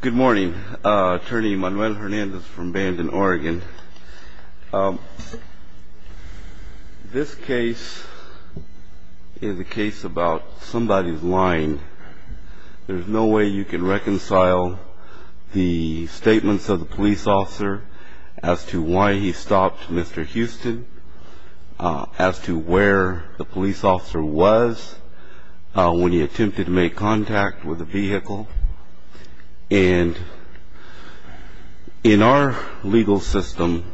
Good morning. Attorney Manuel Hernandez from Bandon, Oregon. This case is a case about somebody's lying. There's no way you can reconcile the statements of the police officer as to why he stopped Mr. Houston, as to where the police officer was when he attempted to make contact with the vehicle. And in our legal system,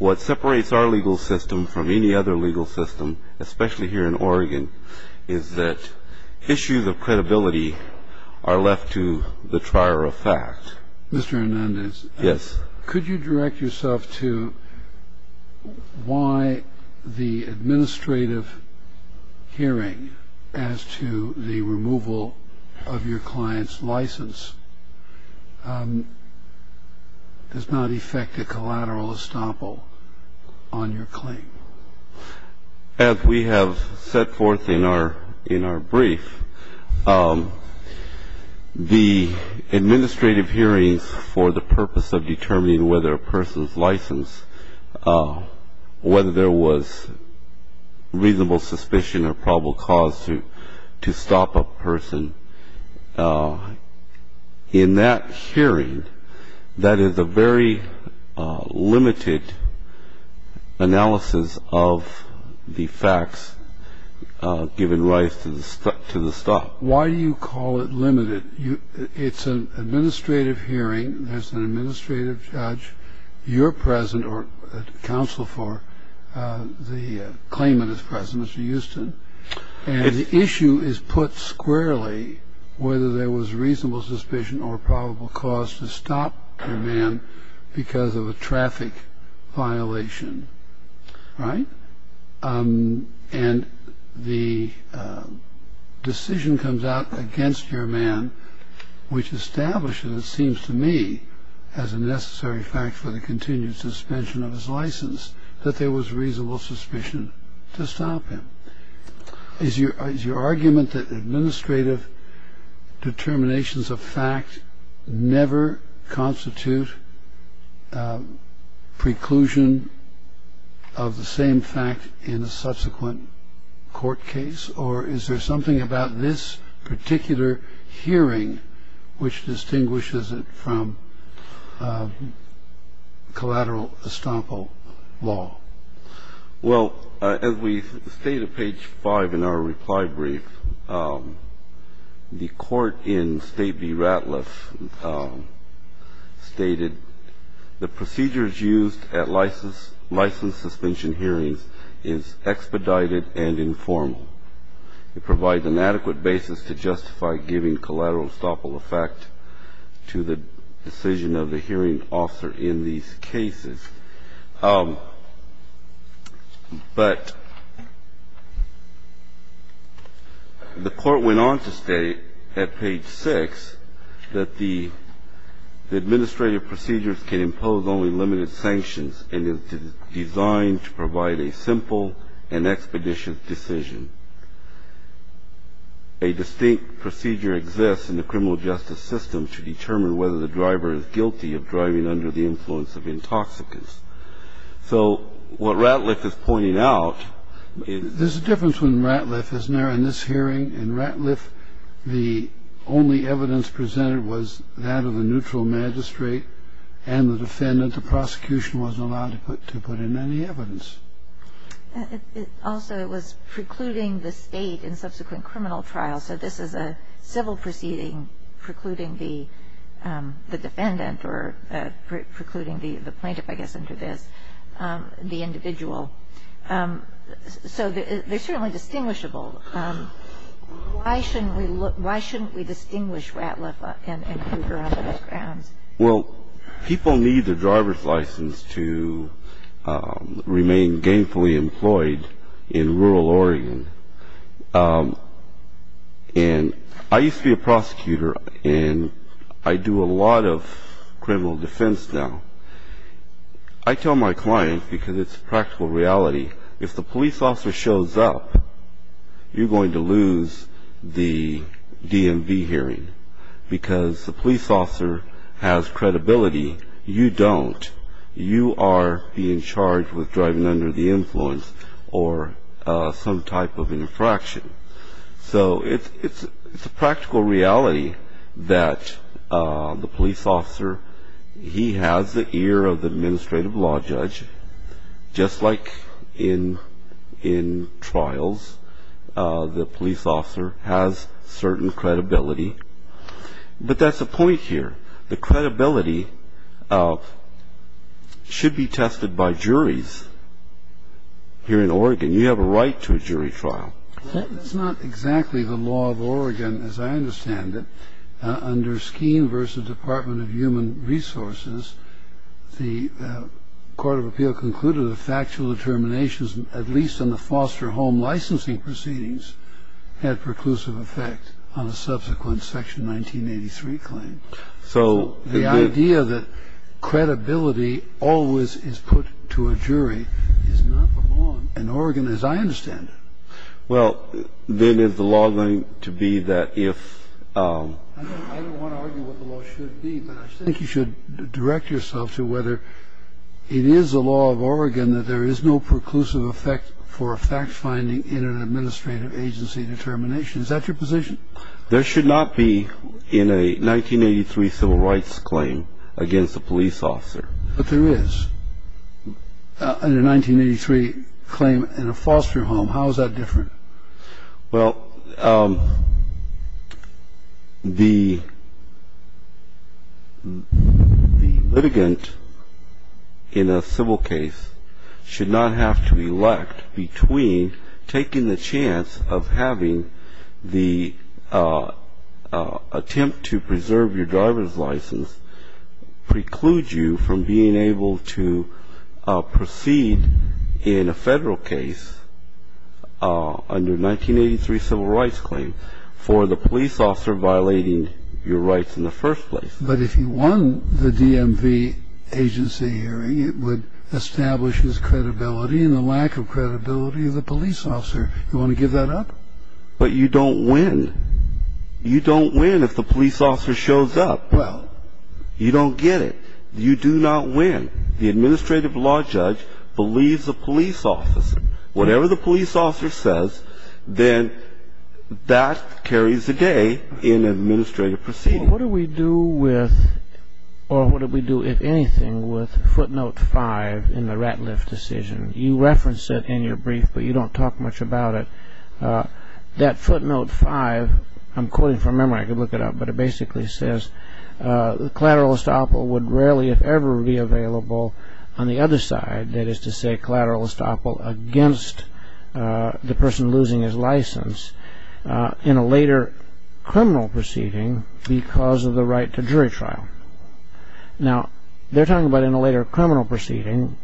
what separates our legal system from any other legal system, especially here in Oregon, is that issues of credibility are left to the trier of fact. Mr. Hernandez. Yes. Could you direct yourself to why the administrative hearing as to the removal of your client's license does not affect a collateral estoppel on your claim? As we have set forth in our brief, the administrative hearings for the purpose of determining whether a person's license, whether there was reasonable suspicion or probable cause to stop a person, in that hearing, that is a very limited analysis of the facts given rise to the stop. Why do you call it limited? It's an administrative hearing. There's an administrative judge. You're present or counsel for the claimant is present, Mr. Houston. And the issue is put squarely whether there was reasonable suspicion or probable cause to stop your man because of a traffic violation. Right? And the decision comes out against your man, which establishes, it seems to me, as a necessary fact for the continued suspension of his license, that there was reasonable suspicion to stop him. Is your argument that administrative determinations of fact never constitute preclusion of the same fact in a subsequent court case? So is there a particular case or is there something about this particular hearing which distinguishes it from collateral estoppel law? Well, as we state at page 5 in our reply brief, the court in State v. Ratliff stated, the procedures used at license suspension hearings is expedited and informal. It provides an adequate basis to justify giving collateral estoppel effect to the decision of the hearing officer in these cases. But the court went on to state at page 6 that the administrative procedures can impose only limited sanctions and is designed to provide a simple and expeditious decision. A distinct procedure exists in the criminal justice system to determine whether the driver is guilty of driving under the influence of intoxicants. So what Ratliff is pointing out is... There's a difference with Ratliff, isn't there? In this hearing, in Ratliff, the only evidence presented was that of the neutral magistrate and the defendant. The prosecution wasn't allowed to put in any evidence. Also, it was precluding the state in subsequent criminal trials. So this is a civil proceeding precluding the defendant or precluding the plaintiff, I guess, under this, the individual. So they're certainly distinguishable. Why shouldn't we distinguish Ratliff and Cougar on those grounds? Well, people need their driver's license to remain gainfully employed in rural Oregon. And I used to be a prosecutor, and I do a lot of criminal defense now. I tell my clients, because it's a practical reality, if the police officer shows up, you're going to lose the DMV hearing because the police officer has credibility. You don't. You are being charged with driving under the influence or some type of infraction. So it's a practical reality that the police officer, he has the ear of the administrative law judge. Just like in trials, the police officer has certain credibility. But that's the point here. The credibility should be tested by juries here in Oregon. You have a right to a jury trial. That's not exactly the law of Oregon as I understand it. Under Skeen v. Department of Human Resources, the Court of Appeal concluded that factual determinations, at least in the foster home licensing proceedings, had preclusive effect on a subsequent Section 1983 claim. So the idea that credibility always is put to a jury is not the law in Oregon as I understand it. Well, then is the law going to be that if... I don't want to argue what the law should be, but I think you should direct yourself to whether it is the law of Oregon that there is no preclusive effect for a fact-finding in an administrative agency determination. Is that your position? There should not be in a 1983 civil rights claim against a police officer. But there is. In a 1983 claim in a foster home, how is that different? Well, the litigant in a civil case should not have to elect between taking the chance of having the attempt to preserve your driver's license preclude you from being able to proceed in a federal case under a 1983 civil rights claim for the police officer violating your rights in the first place. But if he won the DMV agency hearing, it would establish his credibility and the lack of credibility of the police officer. You want to give that up? But you don't win. You don't win if the police officer shows up. Well, you don't get it. You do not win. The administrative law judge believes the police officer. Whatever the police officer says, then that carries the day in an administrative proceeding. Well, what do we do with, or what do we do, if anything, with footnote 5 in the Ratliff decision? You reference it in your brief, but you don't talk much about it. That footnote 5, I'm quoting from memory. I could look it up, but it basically says, collateral estoppel would rarely, if ever, be available on the other side, that is to say collateral estoppel against the person losing his license, in a later criminal proceeding because of the right to jury trial. Now, they're talking about in a later criminal proceeding,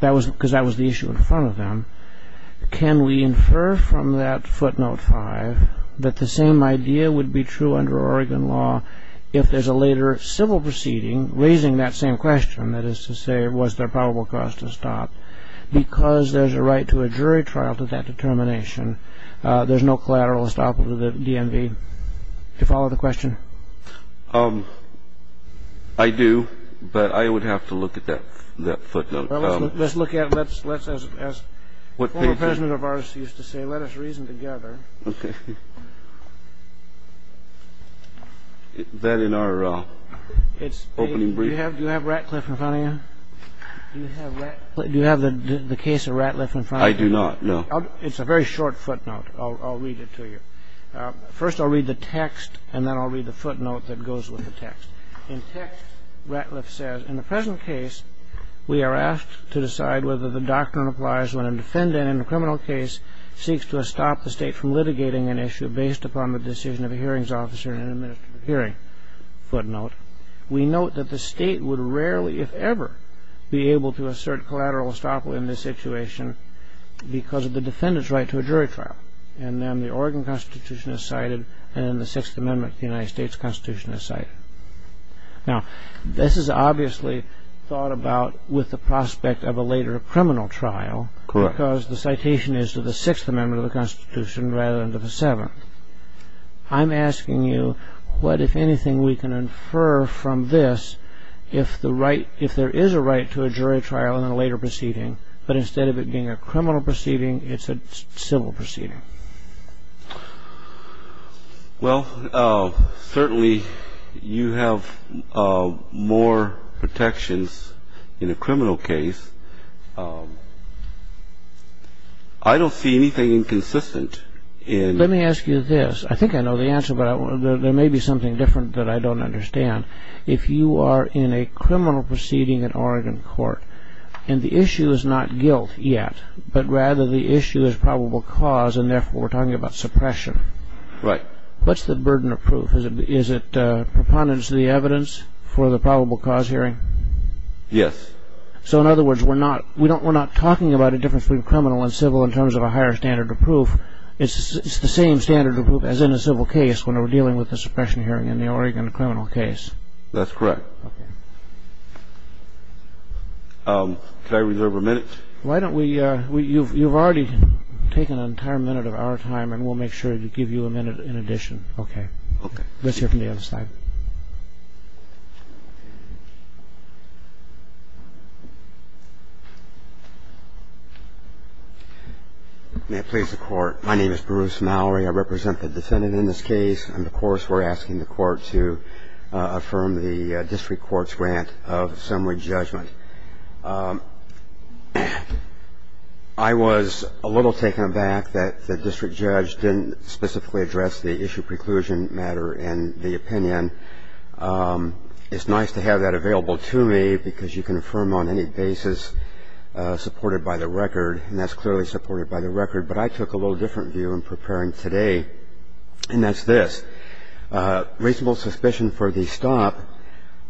because that was the issue in front of them. Can we infer from that footnote 5 that the same idea would be true under Oregon law if there's a later civil proceeding raising that same question, that is to say, was there probable cause to stop? Because there's a right to a jury trial to that determination, there's no collateral estoppel to the DMV. Do you follow the question? I do, but I would have to look at that footnote. Let's look at it. Let's, as former president of ours used to say, let us reason together. Okay. That in our opening brief. Do you have Ratcliffe in front of you? Do you have the case of Ratcliffe in front of you? I do not, no. It's a very short footnote. I'll read it to you. First, I'll read the text, and then I'll read the footnote that goes with the text. In text, Ratcliffe says, In the present case, we are asked to decide whether the doctrine applies when a defendant in a criminal case seeks to stop the state from litigating an issue based upon the decision of a hearings officer in an administrative hearing. Footnote. We note that the state would rarely, if ever, be able to assert collateral estoppel in this situation because of the defendant's right to a jury trial. And then the Oregon Constitution is cited, and in the Sixth Amendment of the United States Constitution is cited. Now, this is obviously thought about with the prospect of a later criminal trial because the citation is to the Sixth Amendment of the Constitution rather than to the Seventh. I'm asking you what, if anything, we can infer from this if there is a right to a jury trial in a later proceeding, but instead of it being a criminal proceeding, it's a civil proceeding. Well, certainly you have more protections in a criminal case. I don't see anything inconsistent in... Let me ask you this. I think I know the answer, but there may be something different that I don't understand. If you are in a criminal proceeding in Oregon court and the issue is not guilt yet, but rather the issue is probable cause and therefore we're talking about suppression. Right. What's the burden of proof? Is it preponderance of the evidence for the probable cause hearing? Yes. So in other words, we're not talking about a difference between criminal and civil in terms of a higher standard of proof. It's the same standard of proof as in a civil case when we're dealing with a suppression hearing in the Oregon criminal case. That's correct. Did I reserve a minute? Why don't we – you've already taken an entire minute of our time and we'll make sure to give you a minute in addition. Okay. Okay. Let's hear from the other side. May it please the Court. My name is Bruce Mallory. I represent the defendant in this case. And, of course, we're asking the Court to affirm the district court's grant of summary judgment. I was a little taken aback that the district judge didn't specifically address the issue preclusion matter in the opinion. It's nice to have that available to me because you can affirm on any basis supported by the record, and that's clearly supported by the record. But I took a little different view in preparing today, and that's this. Reasonable suspicion for the stop,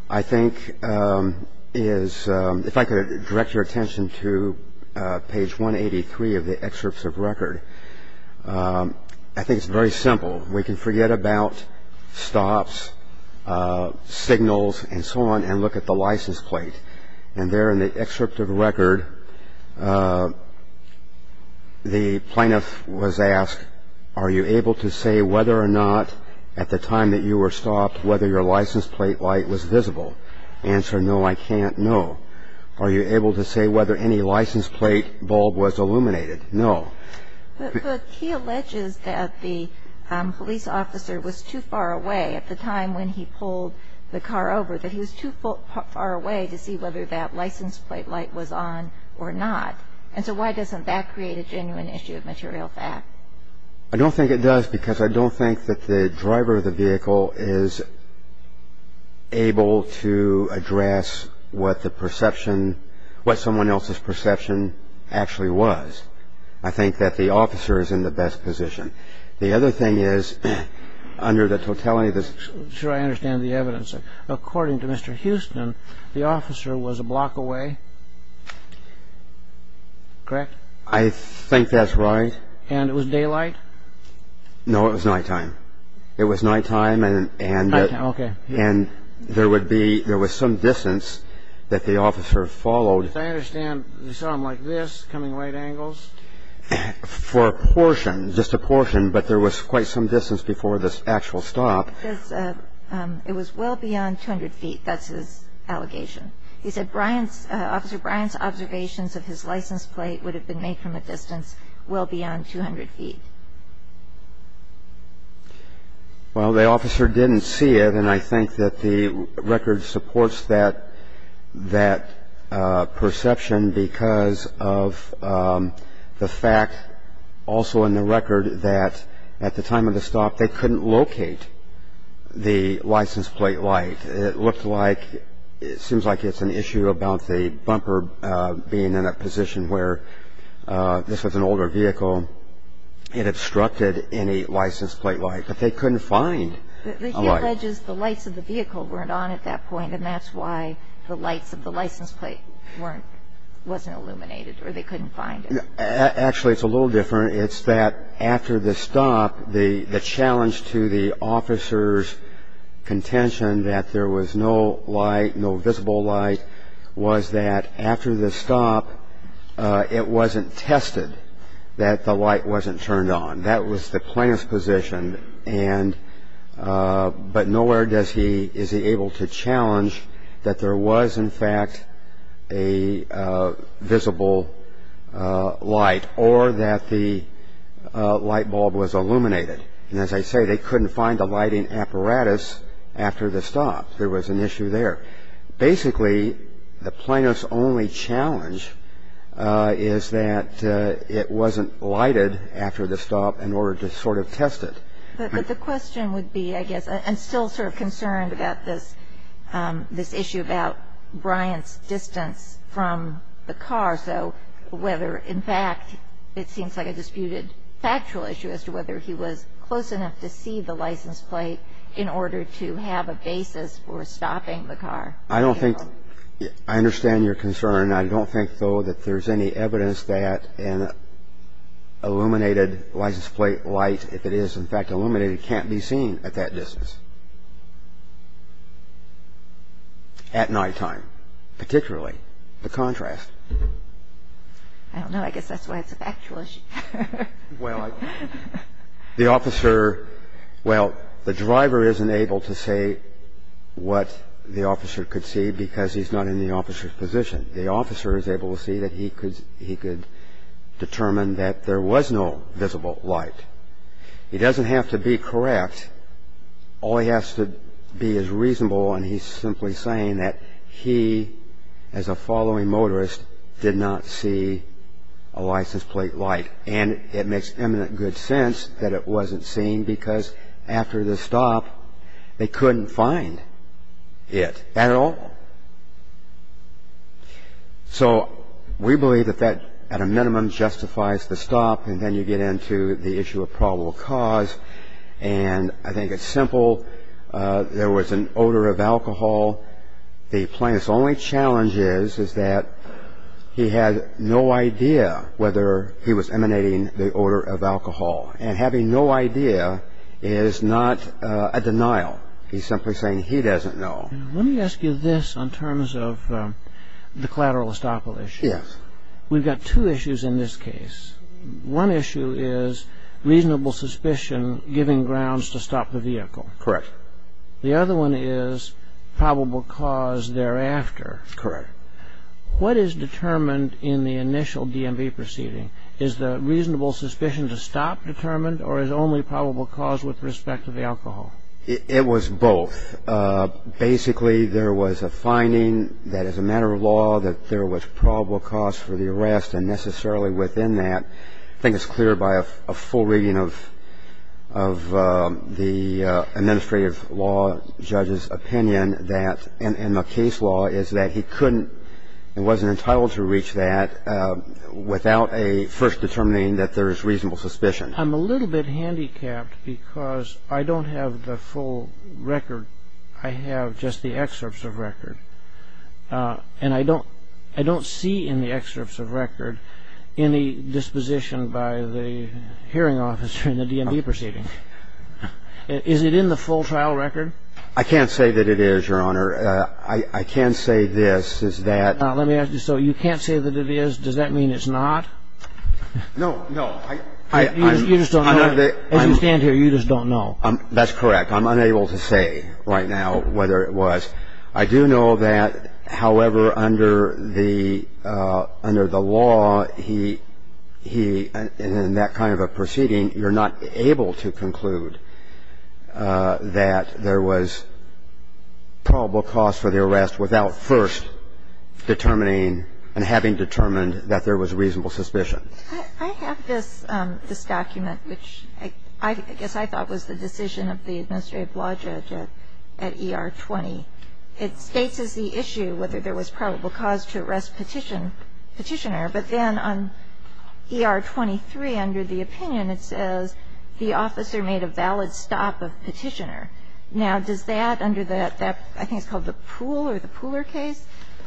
I think, is – if I could direct your attention to page 183 of the excerpts of record. I think it's very simple. We can forget about stops, signals, and so on, and look at the license plate. And there in the excerpt of record, the plaintiff was asked, are you able to say whether or not at the time that you were stopped whether your license plate light was visible? Answer, no, I can't. No. Are you able to say whether any license plate bulb was illuminated? No. But he alleges that the police officer was too far away at the time when he pulled the car over, that he was too far away to see whether that license plate light was on or not. And so why doesn't that create a genuine issue of material fact? I don't think it does because I don't think that the driver of the vehicle is able to address what the perception – what someone else's perception actually was. I think that the officer is in the best position. The other thing is, under the totality of this – Sure, I understand the evidence. According to Mr. Houston, the officer was a block away, correct? I think that's right. And it was daylight? No, it was nighttime. It was nighttime and – Nighttime, okay. And there would be – there was some distance that the officer followed. As I understand, you saw him like this, coming right angles? For a portion, just a portion, but there was quite some distance before this actual stop. It was well beyond 200 feet, that's his allegation. He said Brian's – Officer Brian's observations of his license plate would have been made from a distance well beyond 200 feet. Well, the officer didn't see it, and I think that the record supports that – that perception because of the fact, also in the record, that at the time of the stop they couldn't locate the license plate light. It looked like – it seems like it's an issue about the bumper being in a position where – this was an older vehicle. It obstructed any license plate light, but they couldn't find a light. He alleges the lights of the vehicle weren't on at that point, and that's why the lights of the license plate weren't – wasn't illuminated, or they couldn't find it. Actually, it's a little different. It's that after the stop, the challenge to the officer's contention that there was no light, no visible light, was that after the stop it wasn't tested that the light wasn't turned on. That was the plaintiff's position, and – but nowhere does he – is he able to challenge that there was, in fact, a visible light, or that the light bulb was illuminated. And as I say, they couldn't find a lighting apparatus after the stop. There was an issue there. Basically, the plaintiff's only challenge is that it wasn't lighted after the stop in order to sort of test it. But the question would be, I guess – I'm still sort of concerned about this issue about Bryant's distance from the car, so whether, in fact, it seems like a disputed factual issue as to whether he was close enough to see the license plate in order to have a basis for stopping the car. I don't think – I understand your concern. I don't think, though, that there's any evidence that an illuminated license plate light, if it is, in fact, illuminated, can't be seen at that distance at nighttime, particularly the contrast. I don't know. I guess that's why it's a factual issue. Well, the officer – well, the driver isn't able to say what the officer could see because he's not in the officer's position. The officer is able to see that he could determine that there was no visible light. He doesn't have to be correct. All he has to be is reasonable, and he's simply saying that he, as a following motorist, did not see a license plate light. And it makes eminent good sense that it wasn't seen because after the stop they couldn't find it at all. So we believe that that, at a minimum, justifies the stop, and then you get into the issue of probable cause, and I think it's simple. There was an odor of alcohol. The plaintiff's only challenge is that he had no idea whether he was emanating the odor of alcohol, and having no idea is not a denial. He's simply saying he doesn't know. Let me ask you this in terms of the collateral estoppel issue. Yes. We've got two issues in this case. One issue is reasonable suspicion giving grounds to stop the vehicle. Correct. The other one is probable cause thereafter. Correct. What is determined in the initial DMV proceeding? Is the reasonable suspicion to stop determined, or is only probable cause with respect to the alcohol? It was both. Basically, there was a finding that, as a matter of law, that there was probable cause for the arrest, and necessarily within that, I think it's clear by a full reading of the administrative law judge's opinion that, in the case law, is that he couldn't and wasn't entitled to reach that without first determining that there is reasonable suspicion. I'm a little bit handicapped because I don't have the full record. I have just the excerpts of record, and I don't see in the excerpts of record any disposition by the hearing officer in the DMV proceeding. Is it in the full trial record? I can't say that it is, Your Honor. I can say this, is that ---- Now, let me ask you, so you can't say that it is. Does that mean it's not? No, no. You just don't know. As you stand here, you just don't know. That's correct. I'm unable to say right now whether it was. I do know that, however, under the law, he, in that kind of a proceeding, you're not able to conclude that there was probable cause for the arrest without first determining and having determined that there was reasonable suspicion. I have this document, which I guess I thought was the decision of the administrative law judge at ER 20. It states as the issue whether there was probable cause to arrest Petitioner, but then on ER 23, under the opinion, it says the officer made a valid stop of Petitioner. Now, does that, under that, I think it's called the Poole or the Pooler case,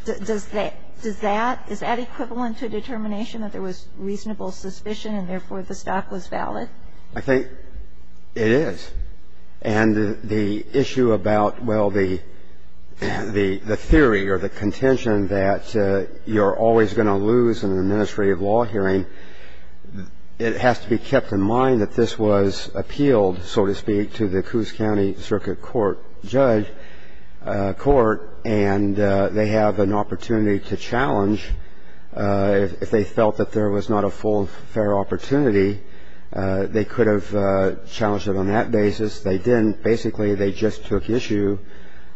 does that, is that equivalent to determination that there was reasonable suspicion and, therefore, the stop was valid? I think it is. And the issue about, well, the theory or the contention that you're always going to lose in an administrative law hearing, it has to be kept in mind that this was appealed, so to speak, to the Coos County Circuit Court judge court, and they have an opportunity to challenge if they felt that there was not a full, fair opportunity, they could have challenged it on that basis. They didn't. Basically, they just took issue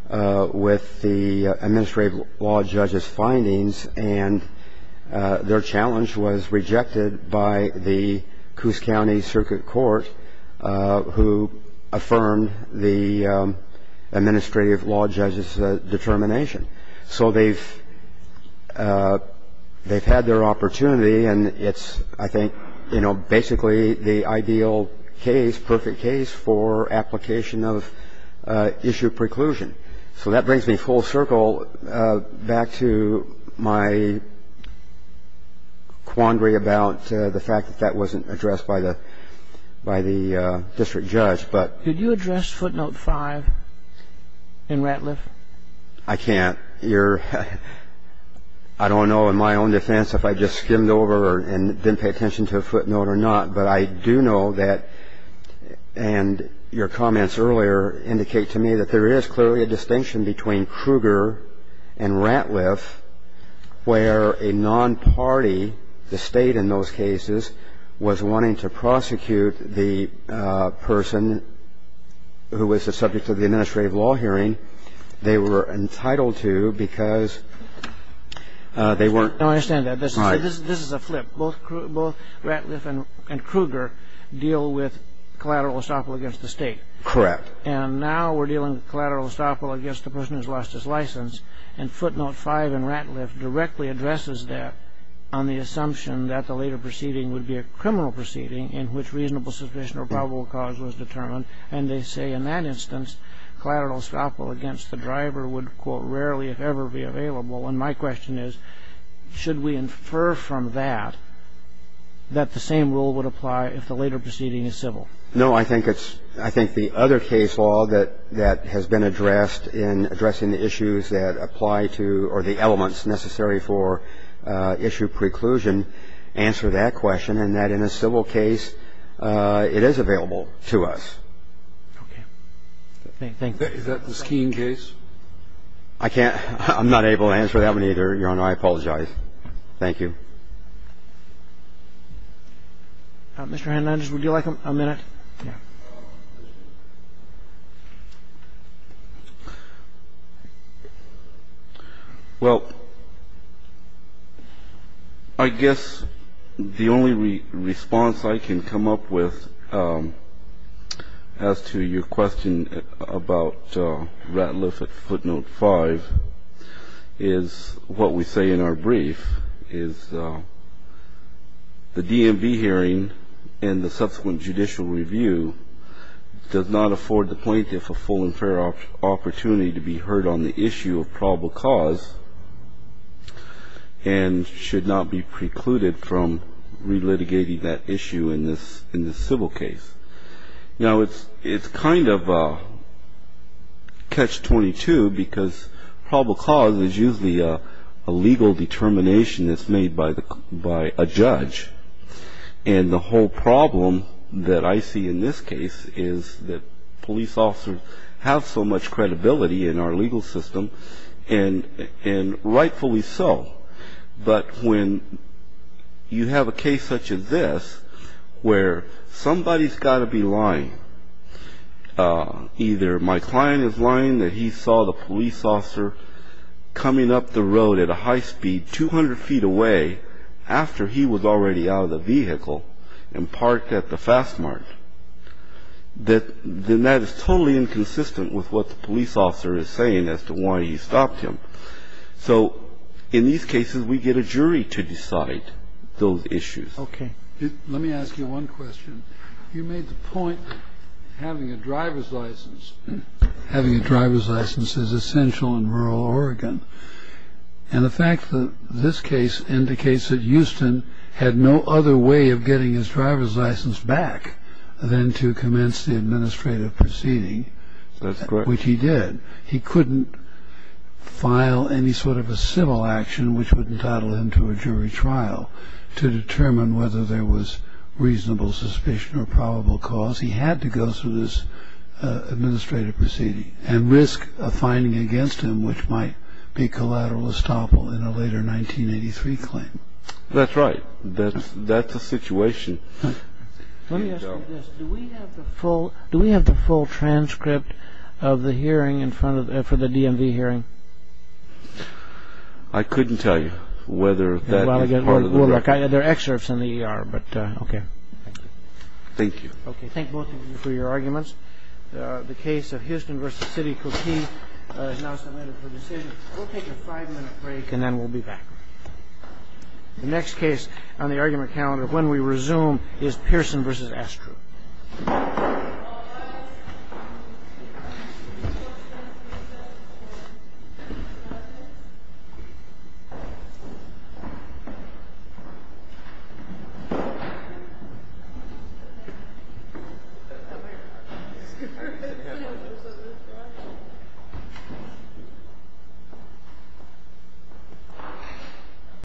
with the administrative law judge's findings, and their challenge was rejected by the Coos County Circuit Court, who affirmed the administrative law judge's determination. So they've had their opportunity, and it's, I think, you know, basically the ideal case, perfect case for application of issue preclusion. And so that brings me full circle back to my quandary about the fact that that wasn't addressed by the district judge. Could you address footnote 5 in Ratliff? I can't. I don't know in my own defense if I just skimmed over and didn't pay attention to a footnote or not, but I do know that, and your comments earlier indicate to me that there is clearly a distinction between Kruger and Ratliff, where a non-party, the State in those cases, was wanting to prosecute the person who was the subject of the administrative law hearing. They were entitled to because they weren't. I understand that. Right. This is a flip. Both Ratliff and Kruger deal with collateral estoppel against the State. Correct. And now we're dealing with collateral estoppel against the person who's lost his license, and footnote 5 in Ratliff directly addresses that on the assumption that the later proceeding would be a criminal proceeding in which reasonable suspicion or probable cause was determined, and they say in that instance, collateral estoppel against the driver would, quote, rarely if ever be available, and my question is, should we infer from that that the same rule would apply if the later proceeding is civil? No. I think it's the other case law that has been addressed in addressing the issues that apply to or the elements necessary for issue preclusion answer that question and that in a civil case, it is available to us. Okay. Thank you. Is that the Skeen case? I can't. I'm not able to answer that one either, Your Honor. I apologize. Thank you. Mr. Handlanger, would you like a minute? Yeah. Well, I guess the only response I can come up with as to your question about Ratliff at footnote 5 is what we say in our brief is the DMV hearing and the subsequent judicial review does not afford the plaintiff a full and fair opportunity to be heard on the issue of probable cause and should not be precluded from relitigating that issue in this civil case. Now, it's kind of catch-22 because probable cause is usually a legal determination that's made by a judge. And the whole problem that I see in this case is that police officers have so much credibility in our legal system and rightfully so. But when you have a case such as this where somebody's got to be lying, either my client is lying that he saw the police officer coming up the road at a high speed 200 feet away after he was already out of the vehicle and parked at the fast mart, then that is totally inconsistent with what the police officer is saying as to why he stopped him. So in these cases, we get a jury to decide those issues. Okay. Let me ask you one question. You made the point having a driver's license. Having a driver's license is essential in rural Oregon. And the fact that this case indicates that Houston had no other way of getting his driver's license back than to commence the administrative proceeding, which he did. That's correct. He couldn't file any sort of a civil action which would entitle him to a jury trial to determine whether there was reasonable suspicion or probable cause. He had to go through this administrative proceeding and risk a finding against him which might be collateral estoppel in a later 1983 claim. That's right. That's the situation. Let me ask you this. Do we have the full transcript of the hearing for the DMV hearing? I couldn't tell you whether that would be part of the hearing. There are excerpts in the ER, but okay. Thank you. Thank you. Okay. Thank both of you for your arguments. The case of Houston v. City Cote is now submitted for decision. We'll take a five-minute break and then we'll be back. The next case on the argument calendar, when we resume, is Pearson v. Astro. Thank you.